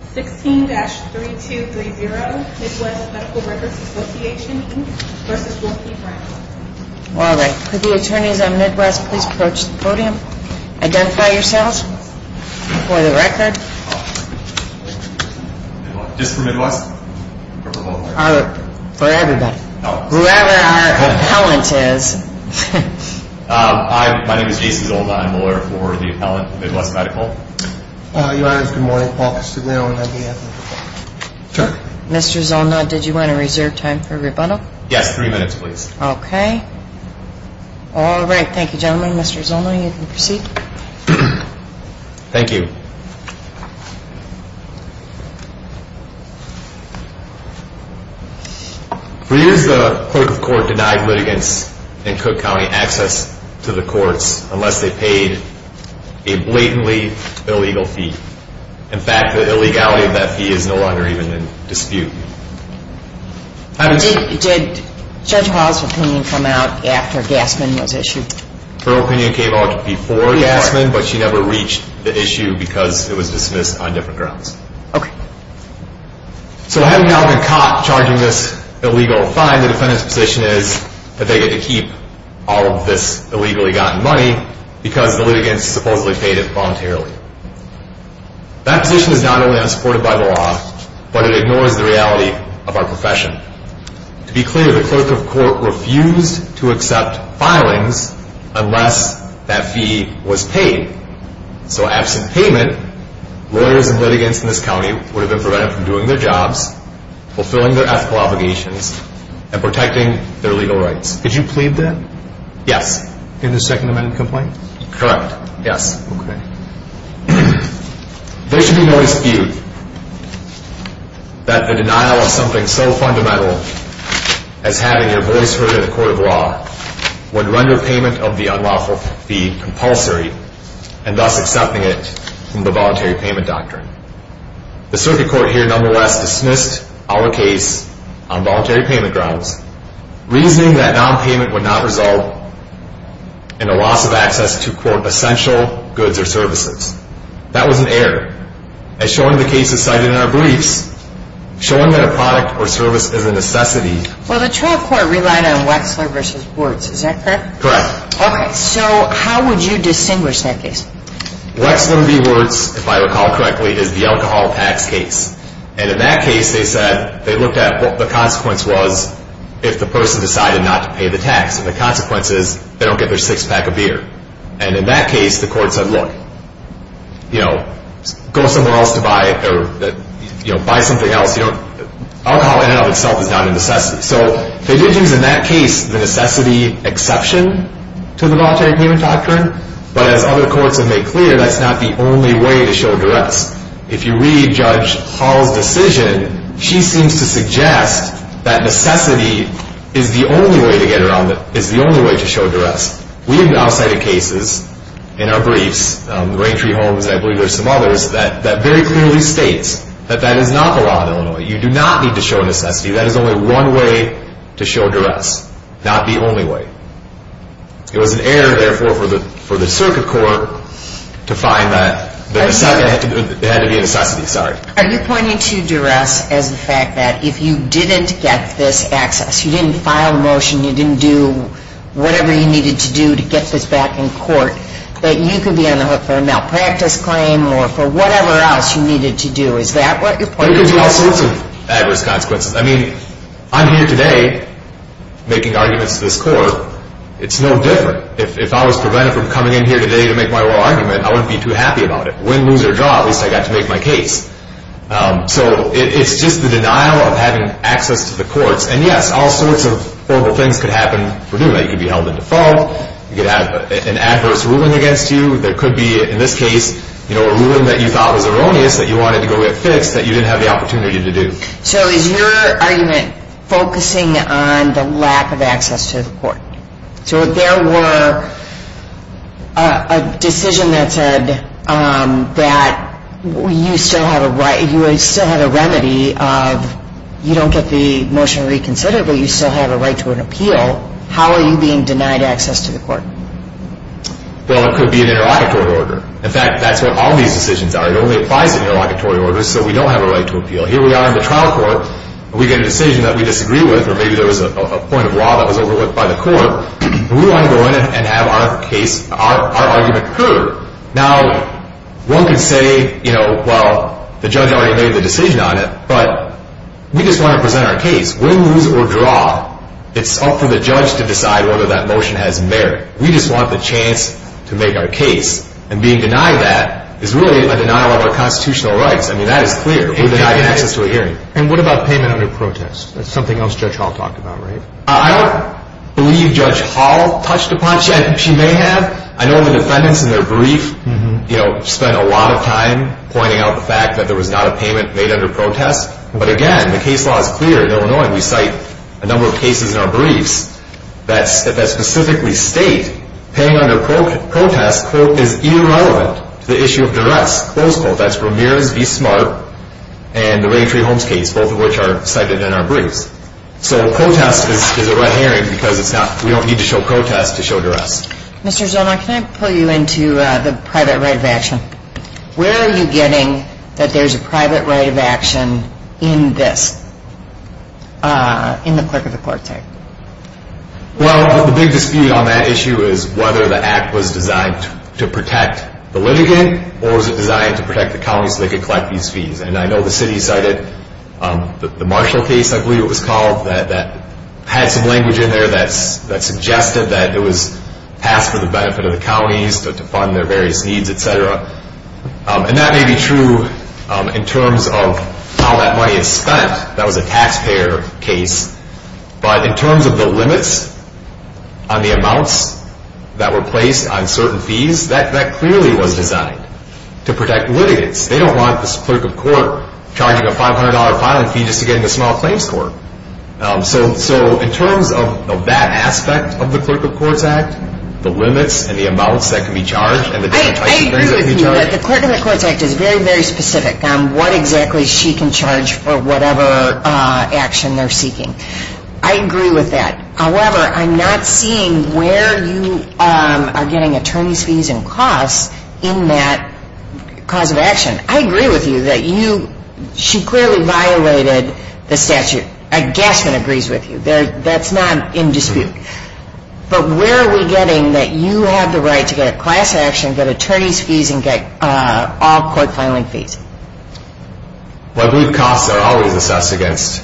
16-3230 Midwest Medical Records Association, Inc. v. Wilkie Brown All right. Could the attorneys on Midwest please approach the podium? Identify yourselves for the record. Just for Midwest or for both? For everybody. Whoever our appellant is. Hi. My name is Jason Gold. I'm a lawyer for the appellant, Midwest Medical. Your Honor, it's good morning. Paul Castigliano and I'm the appellant. Mr. Zolna, did you want to reserve time for rebundal? Yes. Three minutes, please. Okay. All right. Thank you, gentlemen. Mr. Zolna, you can proceed. Thank you. For years, the court of court denied litigants in Cook County access to the courts unless they paid a blatantly illegal fee. In fact, the illegality of that fee is no longer even in dispute. Did Judge Hall's opinion come out after Gassman was issued? Her opinion came out before Gassman, but she never reached the issue because it was dismissed on different grounds. Okay. So having now been caught charging this illegal fine, the defendant's position is that they get to keep all of this illegally gotten money because the litigants supposedly paid it voluntarily. That position is not only unsupported by the law, but it ignores the reality of our profession. To be clear, the clerk of court refused to accept filings unless that fee was paid. So absent payment, lawyers and litigants in this county would have been prevented from doing their jobs, fulfilling their ethical obligations, and protecting their legal rights. Could you plead that? Yes. In the Second Amendment complaint? Correct. Yes. Okay. There should be no dispute that the denial of something so fundamental as having your voice heard in a court of law would render payment of the unlawful fee compulsory and thus accepting it from the voluntary payment doctrine. The circuit court here nonetheless dismissed our case on voluntary payment grounds, reasoning that nonpayment would not result in a loss of access to, quote, essential goods or services. That was an error. As shown in the cases cited in our briefs, showing that a product or service is a necessity. Well, the trial court relied on Wexler v. Wurtz. Is that correct? Correct. Okay. So how would you distinguish that case? Wexler v. Wurtz, if I recall correctly, is the alcohol tax case. And in that case, they said they looked at what the consequence was if the person decided not to pay the tax. And the consequence is they don't get their sixth pack of beer. And in that case, the court said, look, you know, go somewhere else to buy or, you know, buy something else. You know, alcohol in and of itself is not a necessity. So they did use in that case the necessity exception to the voluntary payment doctrine. But as other courts have made clear, that's not the only way to show duress. If you read Judge Hall's decision, she seems to suggest that necessity is the only way to get around it, is the only way to show duress. We even outside of cases in our briefs, the Raintree Homes and I believe there are some others, that very clearly states that that is not the law in Illinois. You do not need to show necessity. That is only one way to show duress, not the only way. It was an error, therefore, for the circuit court to find that there had to be a necessity. Are you pointing to duress as the fact that if you didn't get this access, you didn't file a motion, you didn't do whatever you needed to do to get this back in court, that you could be on the hook for a malpractice claim or for whatever else you needed to do? Is that what you're pointing to? There could be all sorts of adverse consequences. I mean, I'm here today making arguments to this court. It's no different. If I was prevented from coming in here today to make my oral argument, I wouldn't be too happy about it. Win, lose, or draw, at least I got to make my case. So it's just the denial of having access to the courts. And yes, all sorts of horrible things could happen for doing that. You could be held into fault. You could have an adverse ruling against you. There could be, in this case, a ruling that you thought was erroneous that you wanted to go get fixed that you didn't have the opportunity to do. So is your argument focusing on the lack of access to the court? So if there were a decision that said that you still have a remedy of you don't get the motion reconsidered, but you still have a right to an appeal, how are you being denied access to the court? Well, it could be an interlocutory order. In fact, that's what all these decisions are. It only applies in interlocutory orders, so we don't have a right to appeal. Here we are in the trial court, and we get a decision that we disagree with, or maybe there was a point of law that was overlooked by the court, and we want to go in and have our case, our argument heard. Now, one could say, you know, well, the judge already made the decision on it, but we just want to present our case. Win, lose, or draw, it's up for the judge to decide whether that motion has merit. We just want the chance to make our case. And being denied that is really a denial of our constitutional rights. I mean, that is clear. We're denied access to a hearing. And what about payment under protest? That's something else Judge Hall talked about, right? I don't believe Judge Hall touched upon that. She may have. I know the defendants in their brief, you know, spent a lot of time pointing out the fact that there was not a payment made under protest. But, again, the case law is clear. In Illinois, we cite a number of cases in our briefs that specifically state paying under protest is irrelevant to the issue of duress, close protest, Ramirez v. Smart, and the Raytree Holmes case, both of which are cited in our briefs. So protest is a red herring because we don't need to show protest to show duress. Mr. Zomar, can I pull you into the private right of action? Where are you getting that there's a private right of action in this, in the clerk of the court, sorry? Well, the big dispute on that issue is whether the act was designed to protect the litigant or was it designed to protect the county so they could collect these fees. And I know the city cited the Marshall case, I believe it was called, that had some language in there that suggested that it was passed for the benefit of the counties to fund their various needs, et cetera. And that may be true in terms of how that money is spent. That was a taxpayer case. But in terms of the limits on the amounts that were placed on certain fees, that clearly was designed to protect litigants. They don't want this clerk of court charging a $500 filing fee just to get into small claims court. So in terms of that aspect of the Clerk of Courts Act, the limits and the amounts that can be charged and the different types of things that can be charged... I agree with you. But the Clerk of the Courts Act is very, very specific on what exactly she can charge for whatever action they're seeking. I agree with that. However, I'm not seeing where you are getting attorney's fees and costs in that cause of action. I agree with you that you, she clearly violated the statute. A gasman agrees with you. That's not in dispute. But where are we getting that you have the right to get a class action, get attorney's fees, and get all court filing fees? I believe costs are always assessed against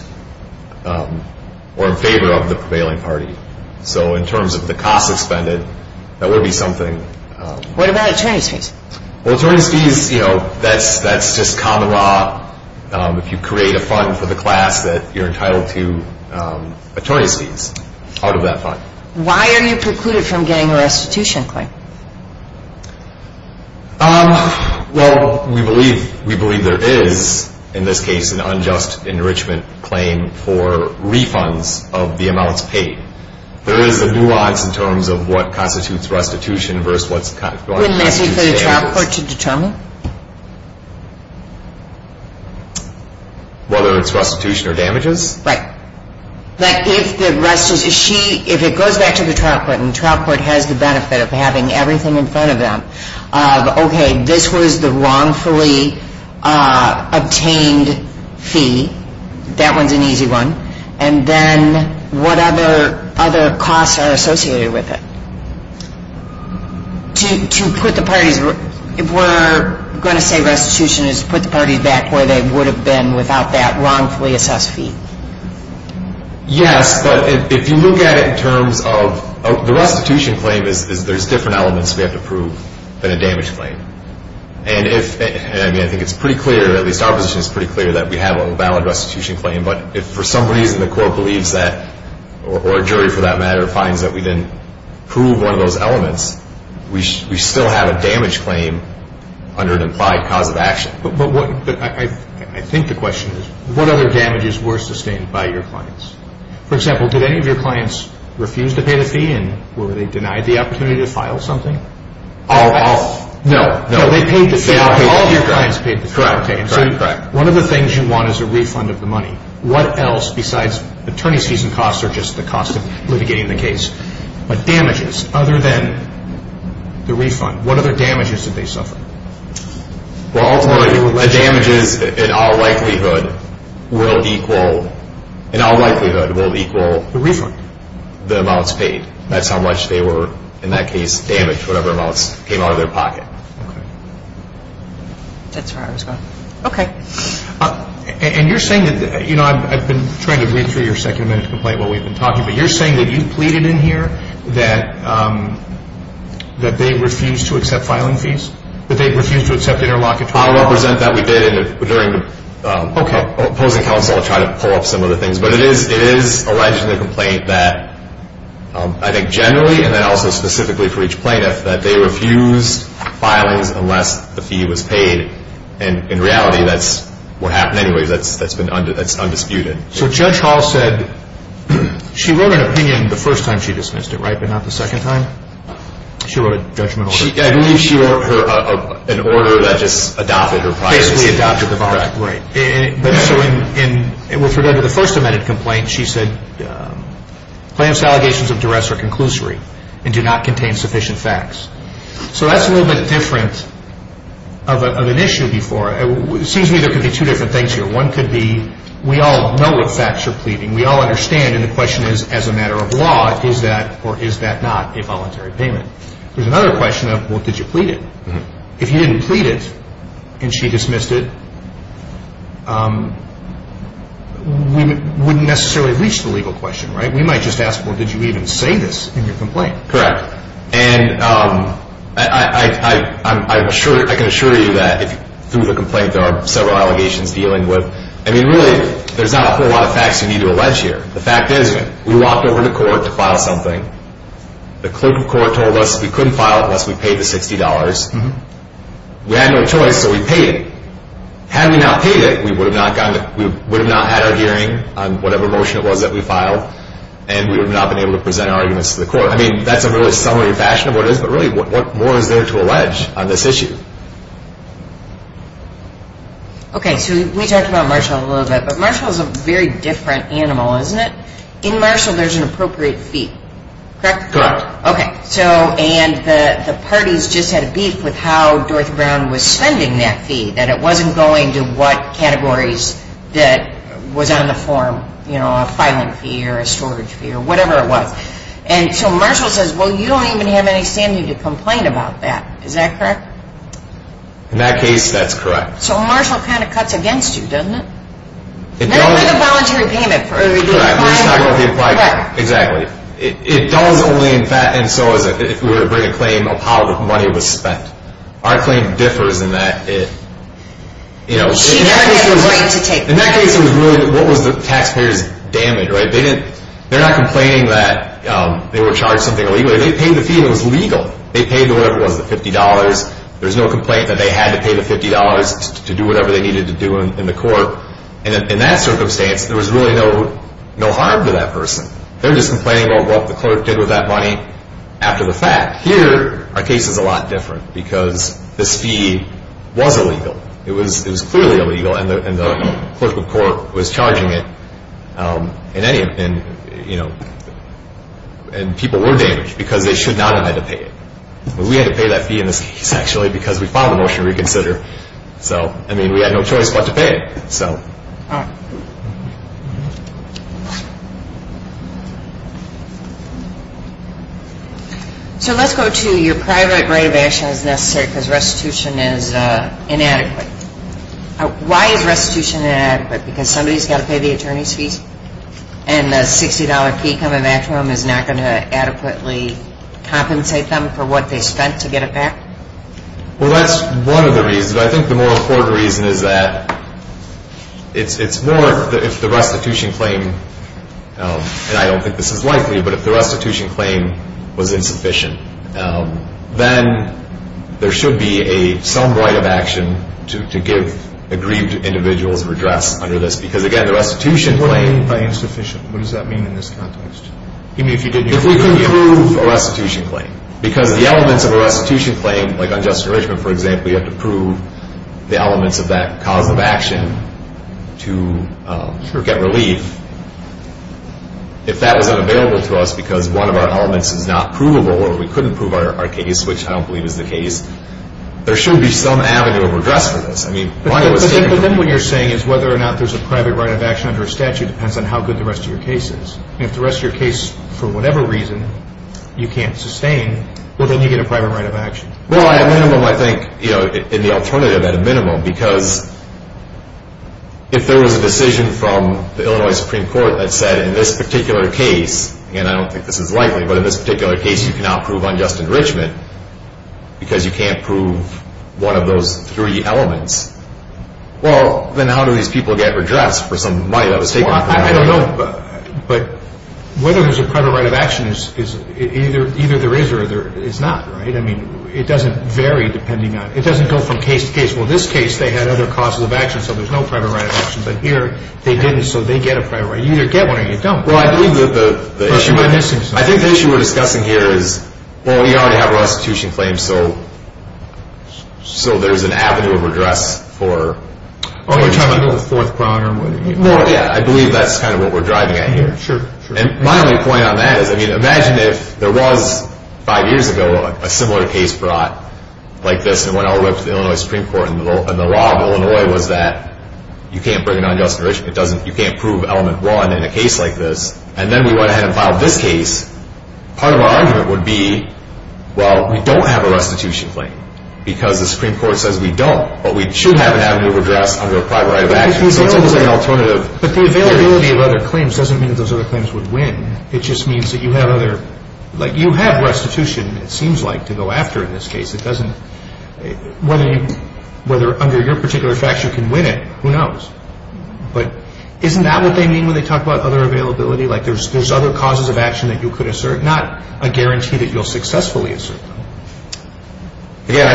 or in favor of the prevailing party. So in terms of the costs expended, that would be something... What about attorney's fees? Well, attorney's fees, that's just common law. If you create a fund for the class that you're entitled to attorney's fees out of that fund. Why are you precluded from getting a restitution claim? Well, we believe there is, in this case, an unjust enrichment claim for refunds of the amounts paid. There is a nuance in terms of what constitutes restitution versus what constitutes damages. Wouldn't that be for the trial court to determine? Whether it's restitution or damages? Right. But if the restitution, if it goes back to the trial court, and the trial court has the benefit of having everything in front of them, okay, this was the wrongfully obtained fee. That one's an easy one. And then what other costs are associated with it? To put the parties, if we're going to say restitution is to put the parties back where they would have been without that wrongfully assessed fee. Yes, but if you look at it in terms of the restitution claim, there's different elements we have to prove than a damage claim. And I think it's pretty clear, at least our position is pretty clear, that we have a valid restitution claim. But if for some reason the court believes that, or a jury for that matter, finds that we didn't prove one of those elements, we still have a damage claim under an implied cause of action. But I think the question is, what other damages were sustained by your clients? For example, did any of your clients refuse to pay the fee, and were they denied the opportunity to file something? All of them. No. No, they paid the fee. All of your clients paid the fee. Correct. One of the things you want is a refund of the money. What else besides attorney's fees and costs are just the cost of litigating the case? But damages other than the refund, what other damages did they suffer? Well, ultimately damages in all likelihood will equal the refund, the amounts paid. That's how much they were, in that case, damaged, whatever amounts came out of their pocket. Okay. That's where I was going. Okay. And you're saying that, you know, I've been trying to read through your second amendment complaint while we've been talking, but you're saying that you pleaded in here that they refused to accept filing fees, that they refused to accept interlocutor fees. I'll represent that we did during opposing counsel to try to pull up some of the things. But it is alleged in the complaint that I think generally, and then also specifically for each plaintiff, that they refused filings unless the fee was paid. And in reality, that's what happened anyway. That's undisputed. So Judge Hall said she wrote an opinion the first time she dismissed it, right, but not the second time? She wrote a judgment order? I believe she wrote an order that just adopted her prior statement. Basically adopted the voluntary. Right. So with regard to the first amendment complaint, she said, plaintiff's allegations of duress are conclusory and do not contain sufficient facts. So that's a little bit different of an issue before. It seems to me there could be two different things here. One could be we all know what facts you're pleading, we all understand, and the question is, as a matter of law, is that or is that not a voluntary payment? There's another question of, well, did you plead it? If you didn't plead it and she dismissed it, we wouldn't necessarily reach the legal question, right? We might just ask, well, did you even say this in your complaint? Correct. And I can assure you that through the complaint, there are several allegations dealing with, I mean, really, there's not a whole lot of facts you need to allege here. The fact is we walked over to court to file something. The clerk of court told us we couldn't file it unless we paid the $60. We had no choice, so we paid it. Had we not paid it, we would have not had our hearing on whatever motion it was that we filed, and we would not have been able to present our arguments to the court. I mean, that's a really summary fashion of what it is, but really what more is there to allege on this issue? Okay, so we talked about Marshall a little bit, but Marshall is a very different animal, isn't it? In Marshall, there's an appropriate fee, correct? Correct. Okay, and the parties just had a beef with how Dorothy Brown was spending that fee, that it wasn't going to what categories that was on the form, you know, a filing fee or a storage fee or whatever it was. And so Marshall says, well, you don't even have any standing to complain about that. Is that correct? In that case, that's correct. So Marshall kind of cuts against you, doesn't it? Not with a voluntary payment. Correct. Exactly. It does only in fact, and so is if we were to bring a claim of how the money was spent. Our claim differs in that it, you know. She never had the right to take it. In that case, it was really what was the taxpayer's damage, right? They're not complaining that they were charged something illegal. They paid the fee and it was legal. They paid whatever it was, the $50. There's no complaint that they had to pay the $50 to do whatever they needed to do in the court. And in that circumstance, there was really no harm to that person. They're just complaining about what the clerk did with that money after the fact. Here, our case is a lot different because this fee was illegal. It was clearly illegal and the clerk of court was charging it. And people were damaged because they should not have had to pay it. We had to pay that fee in this case actually because we filed a motion to reconsider. So, I mean, we had no choice but to pay it. All right. So let's go to your private right of action as necessary because restitution is inadequate. Why is restitution inadequate? Because somebody's got to pay the attorney's fees and the $60 fee coming back to them is not going to adequately compensate them for what they spent to get it back? Well, that's one of the reasons. But I think the more important reason is that it's more if the restitution claim, and I don't think this is likely, but if the restitution claim was insufficient, then there should be some right of action to give aggrieved individuals redress under this. Because, again, the restitution claim… What do you mean by insufficient? What does that mean in this context? I mean, if you didn't… If we couldn't prove a restitution claim because the elements of a restitution claim, like on Justin Richmond, for example, you have to prove the elements of that cause of action to get relief. If that was unavailable to us because one of our elements is not provable or we couldn't prove our case, which I don't believe is the case, there should be some avenue of redress for this. I mean… But then what you're saying is whether or not there's a private right of action under a statute depends on how good the rest of your case is. If the rest of your case, for whatever reason, you can't sustain, well, then you get a private right of action. Well, at a minimum, I think, in the alternative, at a minimum, because if there was a decision from the Illinois Supreme Court that said, in this particular case, and I don't think this is likely, but in this particular case you cannot prove unjust enrichment because you can't prove one of those three elements, well, then how do these people get redress for some money that was taken from them? Well, I don't know, but whether there's a private right of action, either there is or there is not, right? I mean, it doesn't vary depending on… It doesn't go from case to case. Well, in this case, they had other causes of action, so there's no private right of action. But here, they didn't, so they get a private right. You either get one or you don't. Well, I believe that the issue… But you are missing something. I think the issue we're discussing here is, well, we already have a restitution claim, so there's an avenue of redress for… Oh, you're talking about the fourth quadrant? Yeah, I believe that's kind of what we're driving at here. Sure, sure. And my only point on that is, I mean, imagine if there was, five years ago, a similar case brought like this and went all the way up to the Illinois Supreme Court and the law of Illinois was that you can't bring an unjust enrichment, you can't prove element one in a case like this, and then we went ahead and filed this case. Part of our argument would be, well, we don't have a restitution claim because the Supreme Court says we don't, but we should have an avenue of redress under a private right of action. But the availability of other claims doesn't mean that those other claims would win. It just means that you have other – like you have restitution, it seems like, to go after in this case. It doesn't – whether under your particular facts you can win it, who knows? But isn't that what they mean when they talk about other availability? Like there's other causes of action that you could assert, not a guarantee that you'll successfully assert them. Again,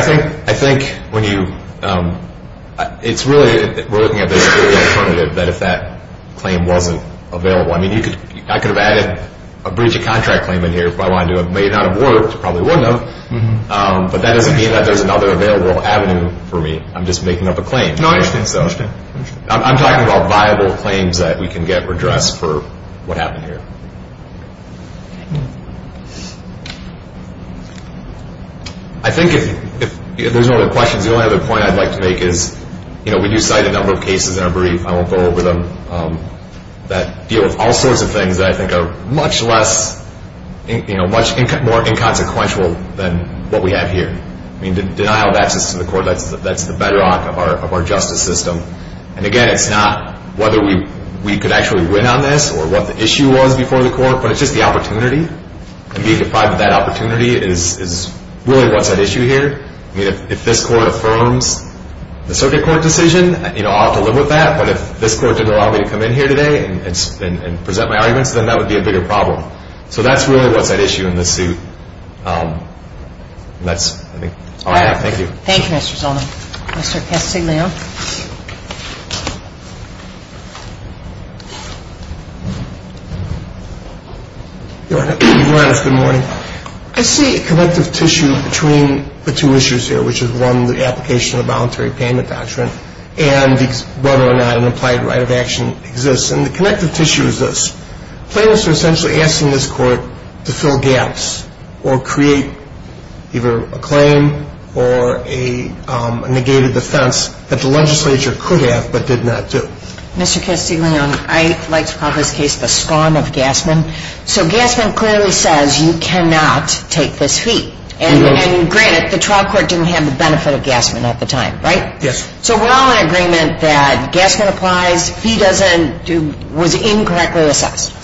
I think when you – it's really – we're looking at this as an alternative that if that claim wasn't available – I mean, you could – I could have added a breach of contract claim in here if I wanted to. It may not have worked. It probably wouldn't have. But that doesn't mean that there's another available avenue for me. I'm just making up a claim. No, I understand. I understand. I'm talking about viable claims that we can get redress for what happened here. I think if there's no other questions, the only other point I'd like to make is we do cite a number of cases in our brief – I won't go over them – that deal with all sorts of things that I think are much less – much more inconsequential than what we have here. Denial of access to the court, that's the bedrock of our justice system. And again, it's not whether we could actually win on this or what the issue was before the court, but it's just the opportunity. And being deprived of that opportunity is really what's at issue here. I mean, if this court affirms the circuit court decision, you know, I'll have to live with that. But if this court didn't allow me to come in here today and present my arguments, then that would be a bigger problem. So that's really what's at issue in this suit. And that's, I think, all I have. Thank you. Thank you, Mr. Zolno. Mr. Castigliano. Your Honor, good morning. I see a connective tissue between the two issues here, which is, one, the application of the voluntary payment doctrine and whether or not an implied right of action exists. And the connective tissue is this. Plaintiffs are essentially asking this court to fill gaps or create either a claim or a negated defense that the legislature could have but did not do. Mr. Castigliano, I'd like to call this case the scorn of Gassman. So Gassman clearly says you cannot take this fee. And granted, the trial court didn't have the benefit of Gassman at the time, right? Yes. So we're all in agreement that Gassman applies. The fee was incorrectly assessed.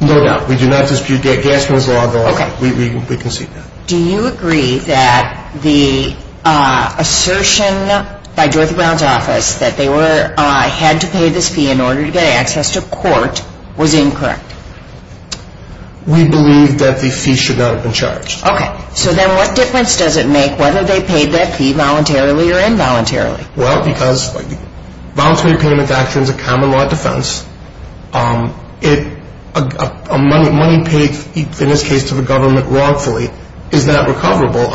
No doubt. We do not dispute Gassman's law. Okay. We concede that. Do you agree that the assertion by Dorothy Brown's office that they had to pay this fee in order to get access to court was incorrect? We believe that the fee should not have been charged. Okay. So then what difference does it make whether they paid that fee voluntarily or involuntarily? Well, because voluntary payment doctrine is a common law defense. A money paid, in this case, to the government wrongfully is not recoverable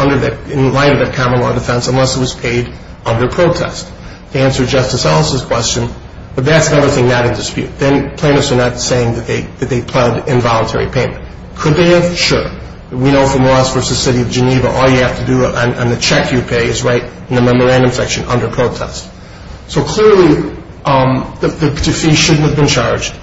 in light of that common law defense unless it was paid under protest. To answer Justice Ellis' question, but that's another thing not in dispute. Then plaintiffs are not saying that they pled involuntary payment. Could they have? Sure. We know from Ross v. City of Geneva all you have to do on the check you pay is write in the memorandum section under protest. So clearly the fee shouldn't have been charged.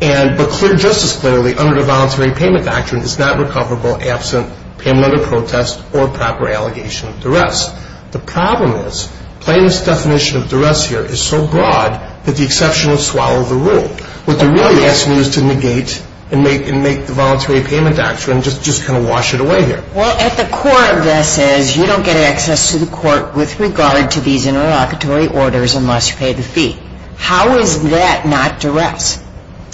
But clear justice clearly under the voluntary payment doctrine is not recoverable absent payment under protest or proper allegation of duress. The problem is plaintiff's definition of duress here is so broad that the exception will swallow the rule. What they're really asking you is to negate and make the voluntary payment doctrine just kind of wash it away here. Well, at the core of this is you don't get access to the court with regard to these interlocutory orders unless you pay the fee. How is that not duress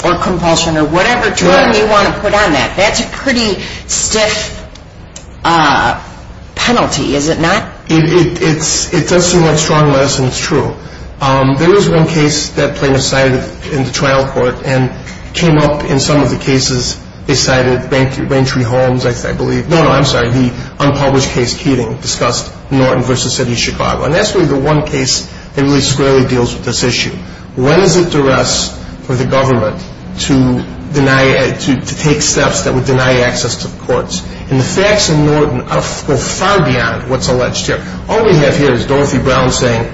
or compulsion or whatever term you want to put on that? That's a pretty stiff penalty, is it not? It does seem like strong lesson. It's true. There is one case that plaintiffs cited in the trial court and came up in some of the cases they cited, Raintree Homes, I believe. No, no, I'm sorry. The unpublished case Keating discussed Norton v. City of Chicago. And that's really the one case that really squarely deals with this issue. When is it duress for the government to take steps that would deny access to the courts? And the facts in Norton go far beyond what's alleged here. All we have here is Dorothy Brown saying,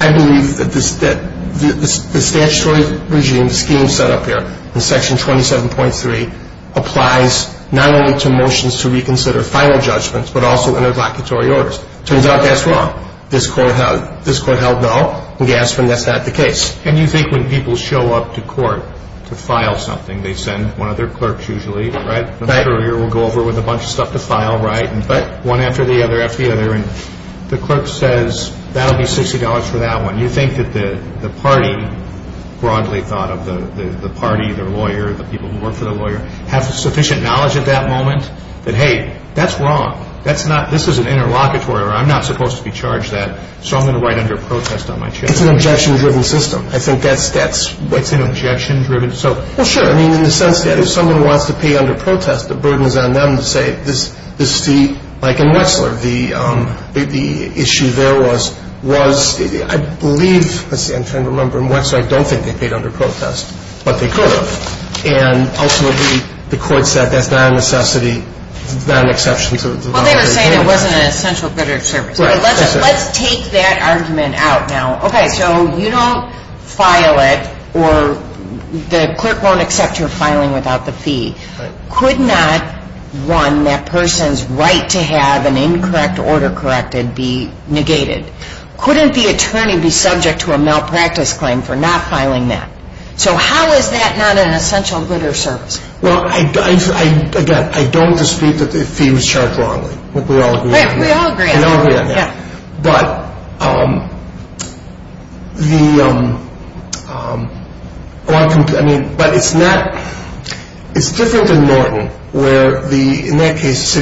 I believe that the statutory regime scheme set up here in Section 27.3 applies not only to motions to reconsider final judgments but also interlocutory orders. It turns out that's wrong. This court held no and gasped when that's not the case. And you think when people show up to court to file something, they send one of their clerks usually, right? The courier will go over with a bunch of stuff to file, right? One after the other after the other. And the clerk says, that will be $60 for that one. You think that the party, broadly thought of, the party, the lawyer, the people who work for the lawyer, have sufficient knowledge at that moment that, hey, that's wrong. This is an interlocutory order. I'm not supposed to be charged that, so I'm going to write under protest on my check. It's an objection-driven system. I think that's what's in objection-driven. Well, sure. I mean, in the sense that if someone wants to pay under protest, the burden is on them to say, like in Wexler, the issue there was, I believe, I'm trying to remember in Wexler, I don't think they paid under protest, but they could have. And ultimately, the court said that's not a necessity, not an exception to the law. Well, they were saying it wasn't an essential credit service. Right. Let's take that argument out now. Okay, so you don't file it, or the clerk won't accept your filing without the fee. Right. Could not, one, that person's right to have an incorrect order corrected be negated? Couldn't the attorney be subject to a malpractice claim for not filing that? So how is that not an essential good or service? Well, again, I don't dispute that the fee was charged wrongly. We all agree on that. Right, we all agree on that. We all agree on that. Yeah. But the, I mean, but it's not, it's different than Norton, where the, in that case,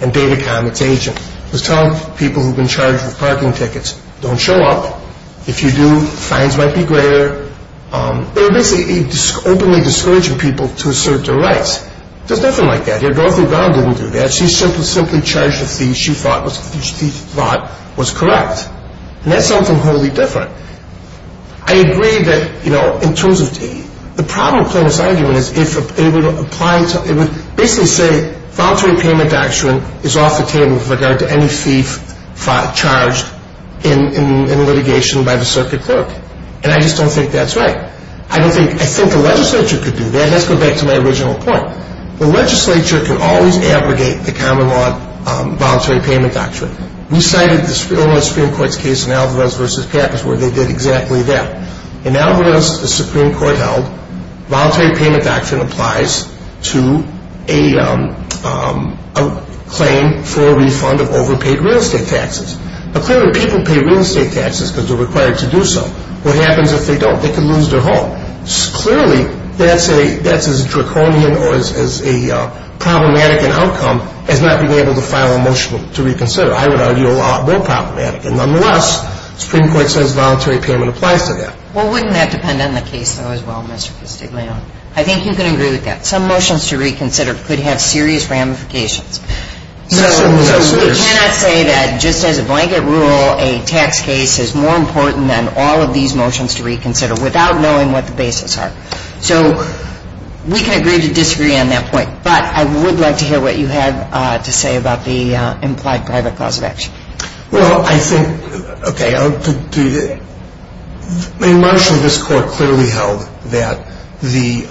and Data Com, its agent, was telling people who've been charged with parking tickets, don't show up. If you do, fines might be greater. They were basically openly discouraging people to assert their rights. There's nothing like that here. Dorothy Brown didn't do that. She simply charged a fee she thought was correct. And that's something wholly different. I agree that, you know, in terms of, the problem with Cronus' argument is if it would apply to, it would basically say voluntary payment doctrine is off the table with regard to any fee charged in litigation by the circuit clerk. And I just don't think that's right. I don't think, I think the legislature could do that. Let's go back to my original point. The legislature can always abrogate the common law voluntary payment doctrine. We cited the Supreme Court's case in Alvarez v. Pappas where they did exactly that. In Alvarez, the Supreme Court held voluntary payment doctrine applies to a claim for a refund of overpaid real estate taxes. Now, clearly, people pay real estate taxes because they're required to do so. What happens if they don't? They can lose their home. Clearly, that's as draconian or as problematic an outcome as not being able to file a motion to reconsider. I would argue a lot more problematic. Nonetheless, the Supreme Court says voluntary payment applies to that. Well, wouldn't that depend on the case, though, as well, Mr. Castiglione? I think you can agree with that. Some motions to reconsider could have serious ramifications. So we cannot say that just as a blanket rule, a tax case is more important than all of these motions to reconsider without knowing what the basis are. So we can agree to disagree on that point. But I would like to hear what you have to say about the implied private cause of action. Well, I think, okay, I'll do it. In Marshall, this court clearly held that the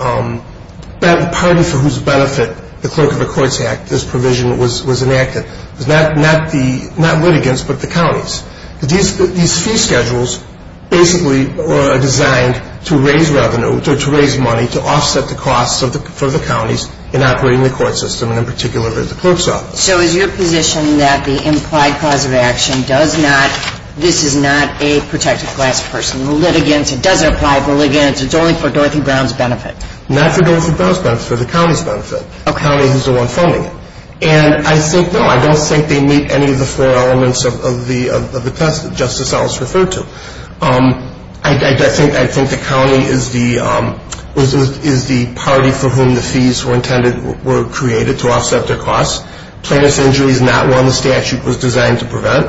party for whose benefit the clerk of the courts act, this provision, was enacted. It was not litigants but the counties. These fee schedules basically are designed to raise revenue, to raise money, to offset the costs for the counties in operating the court system and, in particular, the clerk's office. So is your position that the implied cause of action does not, this is not a protected class person, litigants, it doesn't apply to litigants, it's only for Dorothy Brown's benefit? Not for Dorothy Brown's benefit, for the county's benefit, a county who's the one funding it. And I think, no, I don't think they meet any of the four elements of the test that Justice Ellis referred to. I think the county is the party for whom the fees were intended, were created to offset their costs. Plaintiff's injury is not one the statute was designed to prevent.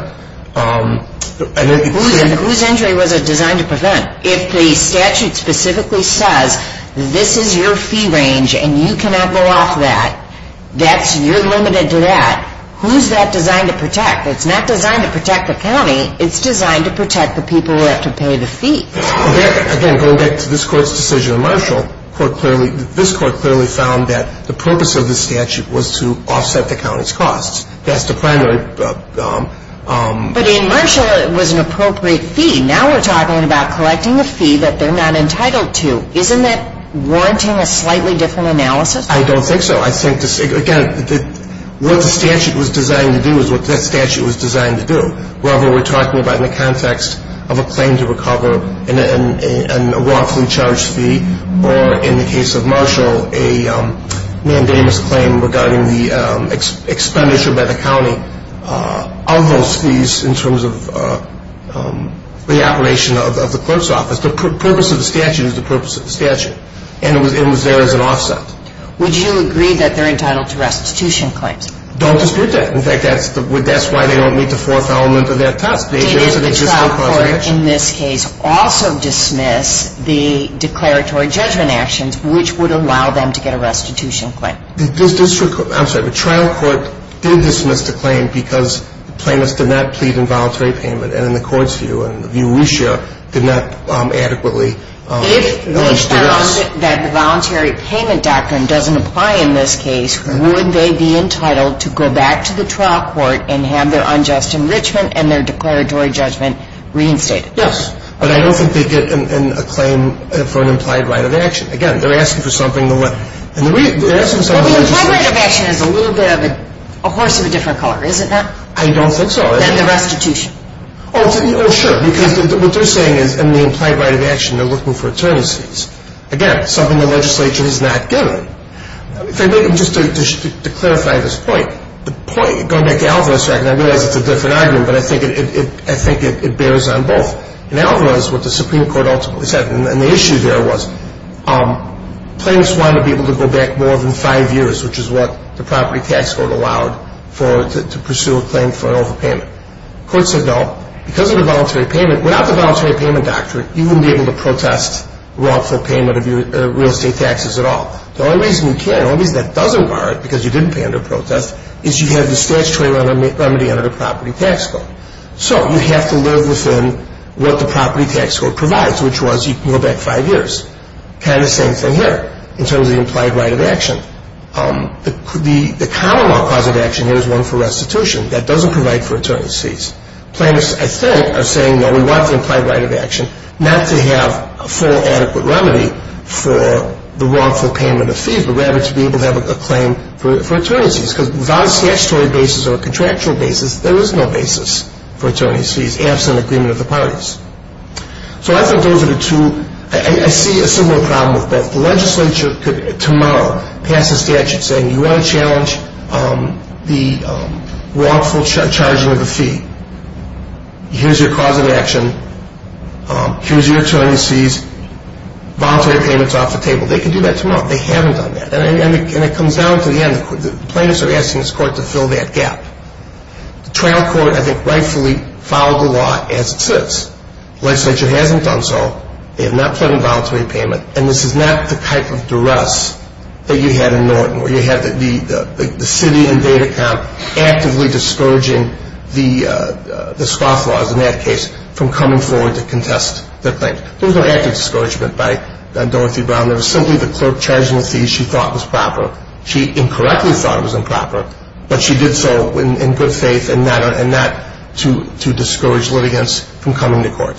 Whose injury was it designed to prevent? If the statute specifically says this is your fee range and you cannot go off that, that's, you're limited to that, who's that designed to protect? It's not designed to protect the county, it's designed to protect the people who have to pay the fee. Again, going back to this Court's decision in Marshall, this Court clearly found that the purpose of the statute was to offset the county's costs. That's the primary. But in Marshall it was an appropriate fee. Now we're talking about collecting a fee that they're not entitled to. Isn't that warranting a slightly different analysis? I don't think so. I think, again, what the statute was designed to do is what that statute was designed to do. Whether we're talking about in the context of a claim to recover and a wrongfully charged fee or, in the case of Marshall, a mandamus claim regarding the expenditure by the county of those fees in terms of the operation of the clerk's office. The purpose of the statute is the purpose of the statute. And it was there as an offset. Would you agree that they're entitled to restitution claims? Don't dispute that. In fact, that's why they don't meet the fourth element of that task. Did the trial court in this case also dismiss the declaratory judgment actions, which would allow them to get a restitution claim? I'm sorry, the trial court did dismiss the claim because plaintiffs did not plead in voluntary payment and in the Court's view and the view we share, did not adequately. If they found that the voluntary payment doctrine doesn't apply in this case, would they be entitled to go back to the trial court and have their unjust enrichment and their declaratory judgment reinstated? Yes. But I don't think they'd get a claim for an implied right of action. Again, they're asking for something. Well, the implied right of action is a little bit of a horse of a different color, is it not? I don't think so. Then the restitution. Oh, sure, because what they're saying is in the implied right of action, they're looking for attorney's fees. Again, something the legislature has not given. Just to clarify this point, going back to Alvarez's argument, I realize it's a different argument, but I think it bears on both. In Alvarez, what the Supreme Court ultimately said, and the issue there was, plaintiffs wanted to be able to go back more than five years, which is what the property tax code allowed to pursue a claim for an overpayment. The court said no. Because of the voluntary payment, without the voluntary payment doctrine, you wouldn't be able to protest wrongful payment of your real estate taxes at all. The only reason you can, the only reason that doesn't bar it because you didn't pay under protest, is you have the statutory remedy under the property tax code. So you have to live within what the property tax code provides, which was you can go back five years. Kind of the same thing here in terms of the implied right of action. The common law cause of action here is one for restitution. That doesn't provide for attorney's fees. Plaintiffs, I think, are saying no, we want the implied right of action, not to have a full adequate remedy for the wrongful payment of fees, but rather to be able to have a claim for attorney's fees. Because without a statutory basis or a contractual basis, there is no basis for attorney's fees, absent agreement of the parties. So I think those are the two. I see a similar problem with both. The legislature could tomorrow pass a statute saying you want to challenge the wrongful charging of a fee. Here's your cause of action. Here's your attorney's fees. Voluntary payment's off the table. They can do that tomorrow. They haven't done that. And it comes down to the end. The plaintiffs are asking this court to fill that gap. The trial court, I think, rightfully followed the law as it sits. The legislature hasn't done so. They have not pledged a voluntary payment. And this is not the type of duress that you had in Norton, where you had the city and data camp actively discouraging the scofflaws, in that case, from coming forward to contest their claims. There was no active discouragement by Dorothy Brown. It was simply the clerk charging the fees she thought was proper. She incorrectly thought it was improper, but she did so in good faith and not to discourage litigants from coming to court.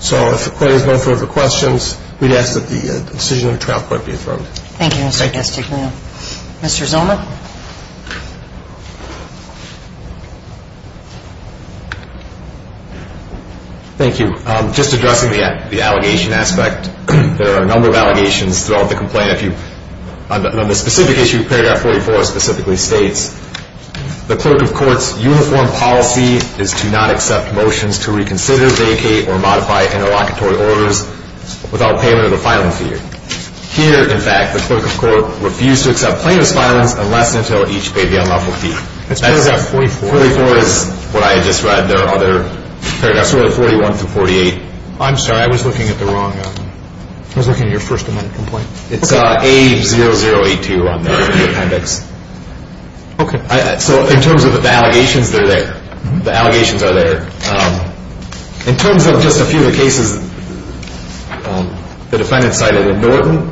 So if the court has no further questions, we'd ask that the decision of the trial court be affirmed. Thank you, Mr. Castagnino. Mr. Zoma? Thank you. Just addressing the allegation aspect, there are a number of allegations throughout the complaint. On the specific issue, paragraph 44 specifically states, the clerk of court's uniform policy is to not accept motions to reconsider, vacate, or modify interlocutory orders without payment of the filing fee. Here, in fact, the clerk of court refused to accept plaintiff's filings unless and until each paid the unlawful fee. That's paragraph 44. 44 is what I had just read. There are other paragraphs, really, 41 through 48. I'm sorry. I was looking at the wrong one. I was looking at your first amendment complaint. It's A0082 on the appendix. Okay. So in terms of the allegations, they're there. The allegations are there. In terms of just a few of the cases the defendant cited in Norton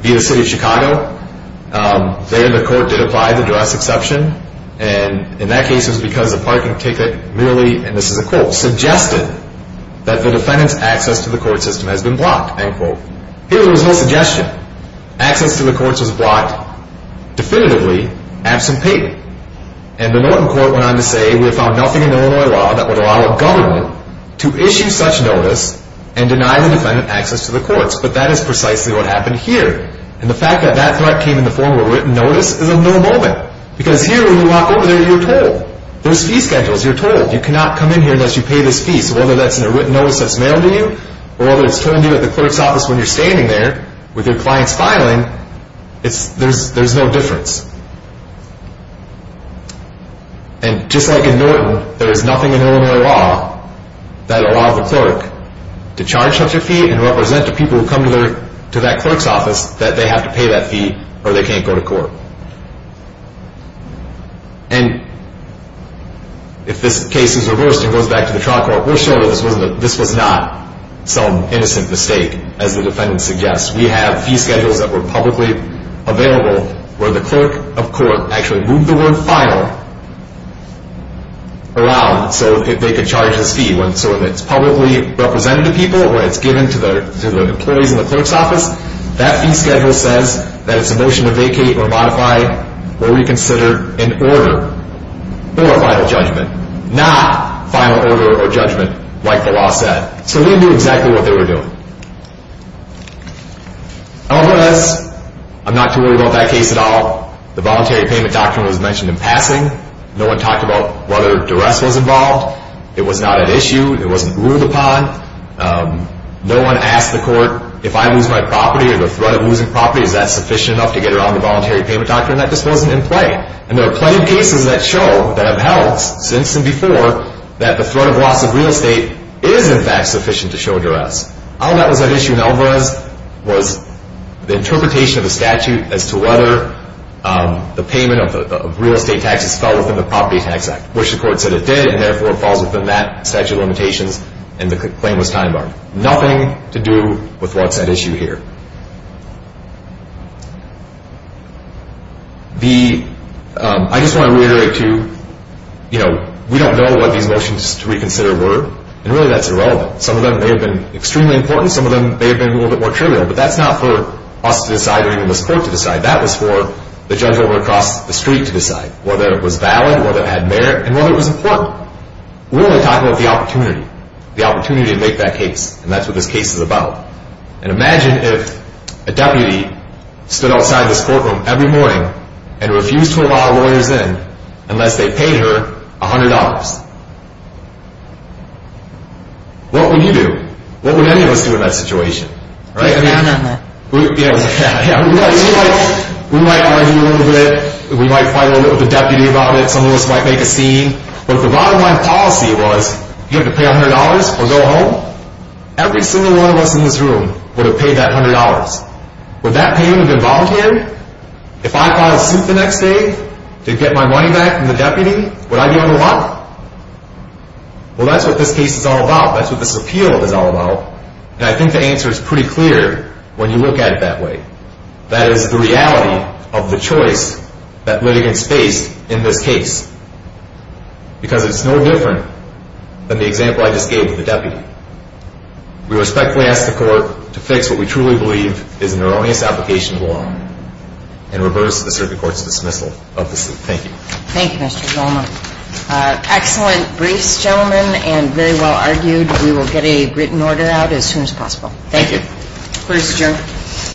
via the city of Chicago, there the court did apply the duress exception, and in that case it was because the parking ticket merely, and this is a quote, suggested that the defendant's access to the court system has been blocked, end quote. Here there was no suggestion. Access to the courts was blocked definitively, absent payment. And the Norton court went on to say we have found nothing in Illinois law that would allow a government to issue such notice and deny the defendant access to the courts. But that is precisely what happened here. And the fact that that threat came in the form of a written notice is of no moment because here when you walk over there, you're told. There's fee schedules. You're told. You cannot come in here unless you pay this fee. So whether that's in a written notice that's mailed to you or whether it's told you at the clerk's office when you're standing there with your client's filing, there's no difference. And just like in Norton, there is nothing in Illinois law that allows a clerk to charge such a fee and represent to people who come to that clerk's office that they have to pay that fee or they can't go to court. And if this case is reversed and goes back to the trial court, we're sure that this was not some innocent mistake, as the defendant suggests. We have fee schedules that were publicly available where the clerk of court actually moved the word final around so that they could charge this fee. So when it's publicly represented to people, when it's given to the employees in the clerk's office, that fee schedule says that it's a motion to vacate or modify or reconsider an order or a final judgment, not final order or judgment like the law said. So they knew exactly what they were doing. LBS, I'm not too worried about that case at all. The voluntary payment doctrine was mentioned in passing. No one talked about whether duress was involved. It was not an issue. It wasn't ruled upon. No one asked the court, if I lose my property or the threat of losing property, is that sufficient enough to get around the voluntary payment doctrine? That just wasn't in play. And there are plenty of cases that show, that have held since and before, that the threat of loss of real estate is, in fact, sufficient to show duress. All that was at issue in LBS was the interpretation of the statute as to whether the payment of real estate taxes fell within the Property Tax Act, which the court said it did, and therefore falls within that statute of limitations, and the claim was time-barred. Nothing to do with what's at issue here. I just want to reiterate, too, we don't know what these motions to reconsider were, and really that's irrelevant. Some of them may have been extremely important, some of them may have been a little bit more trivial, but that's not for us to decide or even this court to decide. That was for the judge over across the street to decide, whether it was valid, whether it had merit, and whether it was important. We're only talking about the opportunity, the opportunity to make that case, and that's what this case is about. And imagine if a deputy stood outside this courtroom every morning and refused to allow lawyers in unless they paid her $100. What would you do? What would any of us do in that situation? We might argue a little bit, we might fight a little bit with the deputy about it, some of us might make a scene, but if the bottom line policy was, you have to pay $100 or go home, every single one of us in this room would have paid that $100. Would that payment have been voluntary? If I filed suit the next day to get my money back from the deputy, would I be able to run? Well, that's what this case is all about, that's what this appeal is all about, and I think the answer is pretty clear when you look at it that way. That is the reality of the choice that litigants faced in this case. Because it's no different than the example I just gave to the deputy. We respectfully ask the court to fix what we truly believe is an erroneous application of law and reverse the circuit court's dismissal of the suit. Thank you. Thank you, Mr. Zolma. Excellent briefs, gentlemen, and very well argued. We will get a written order out as soon as possible. Thank you. Thank you.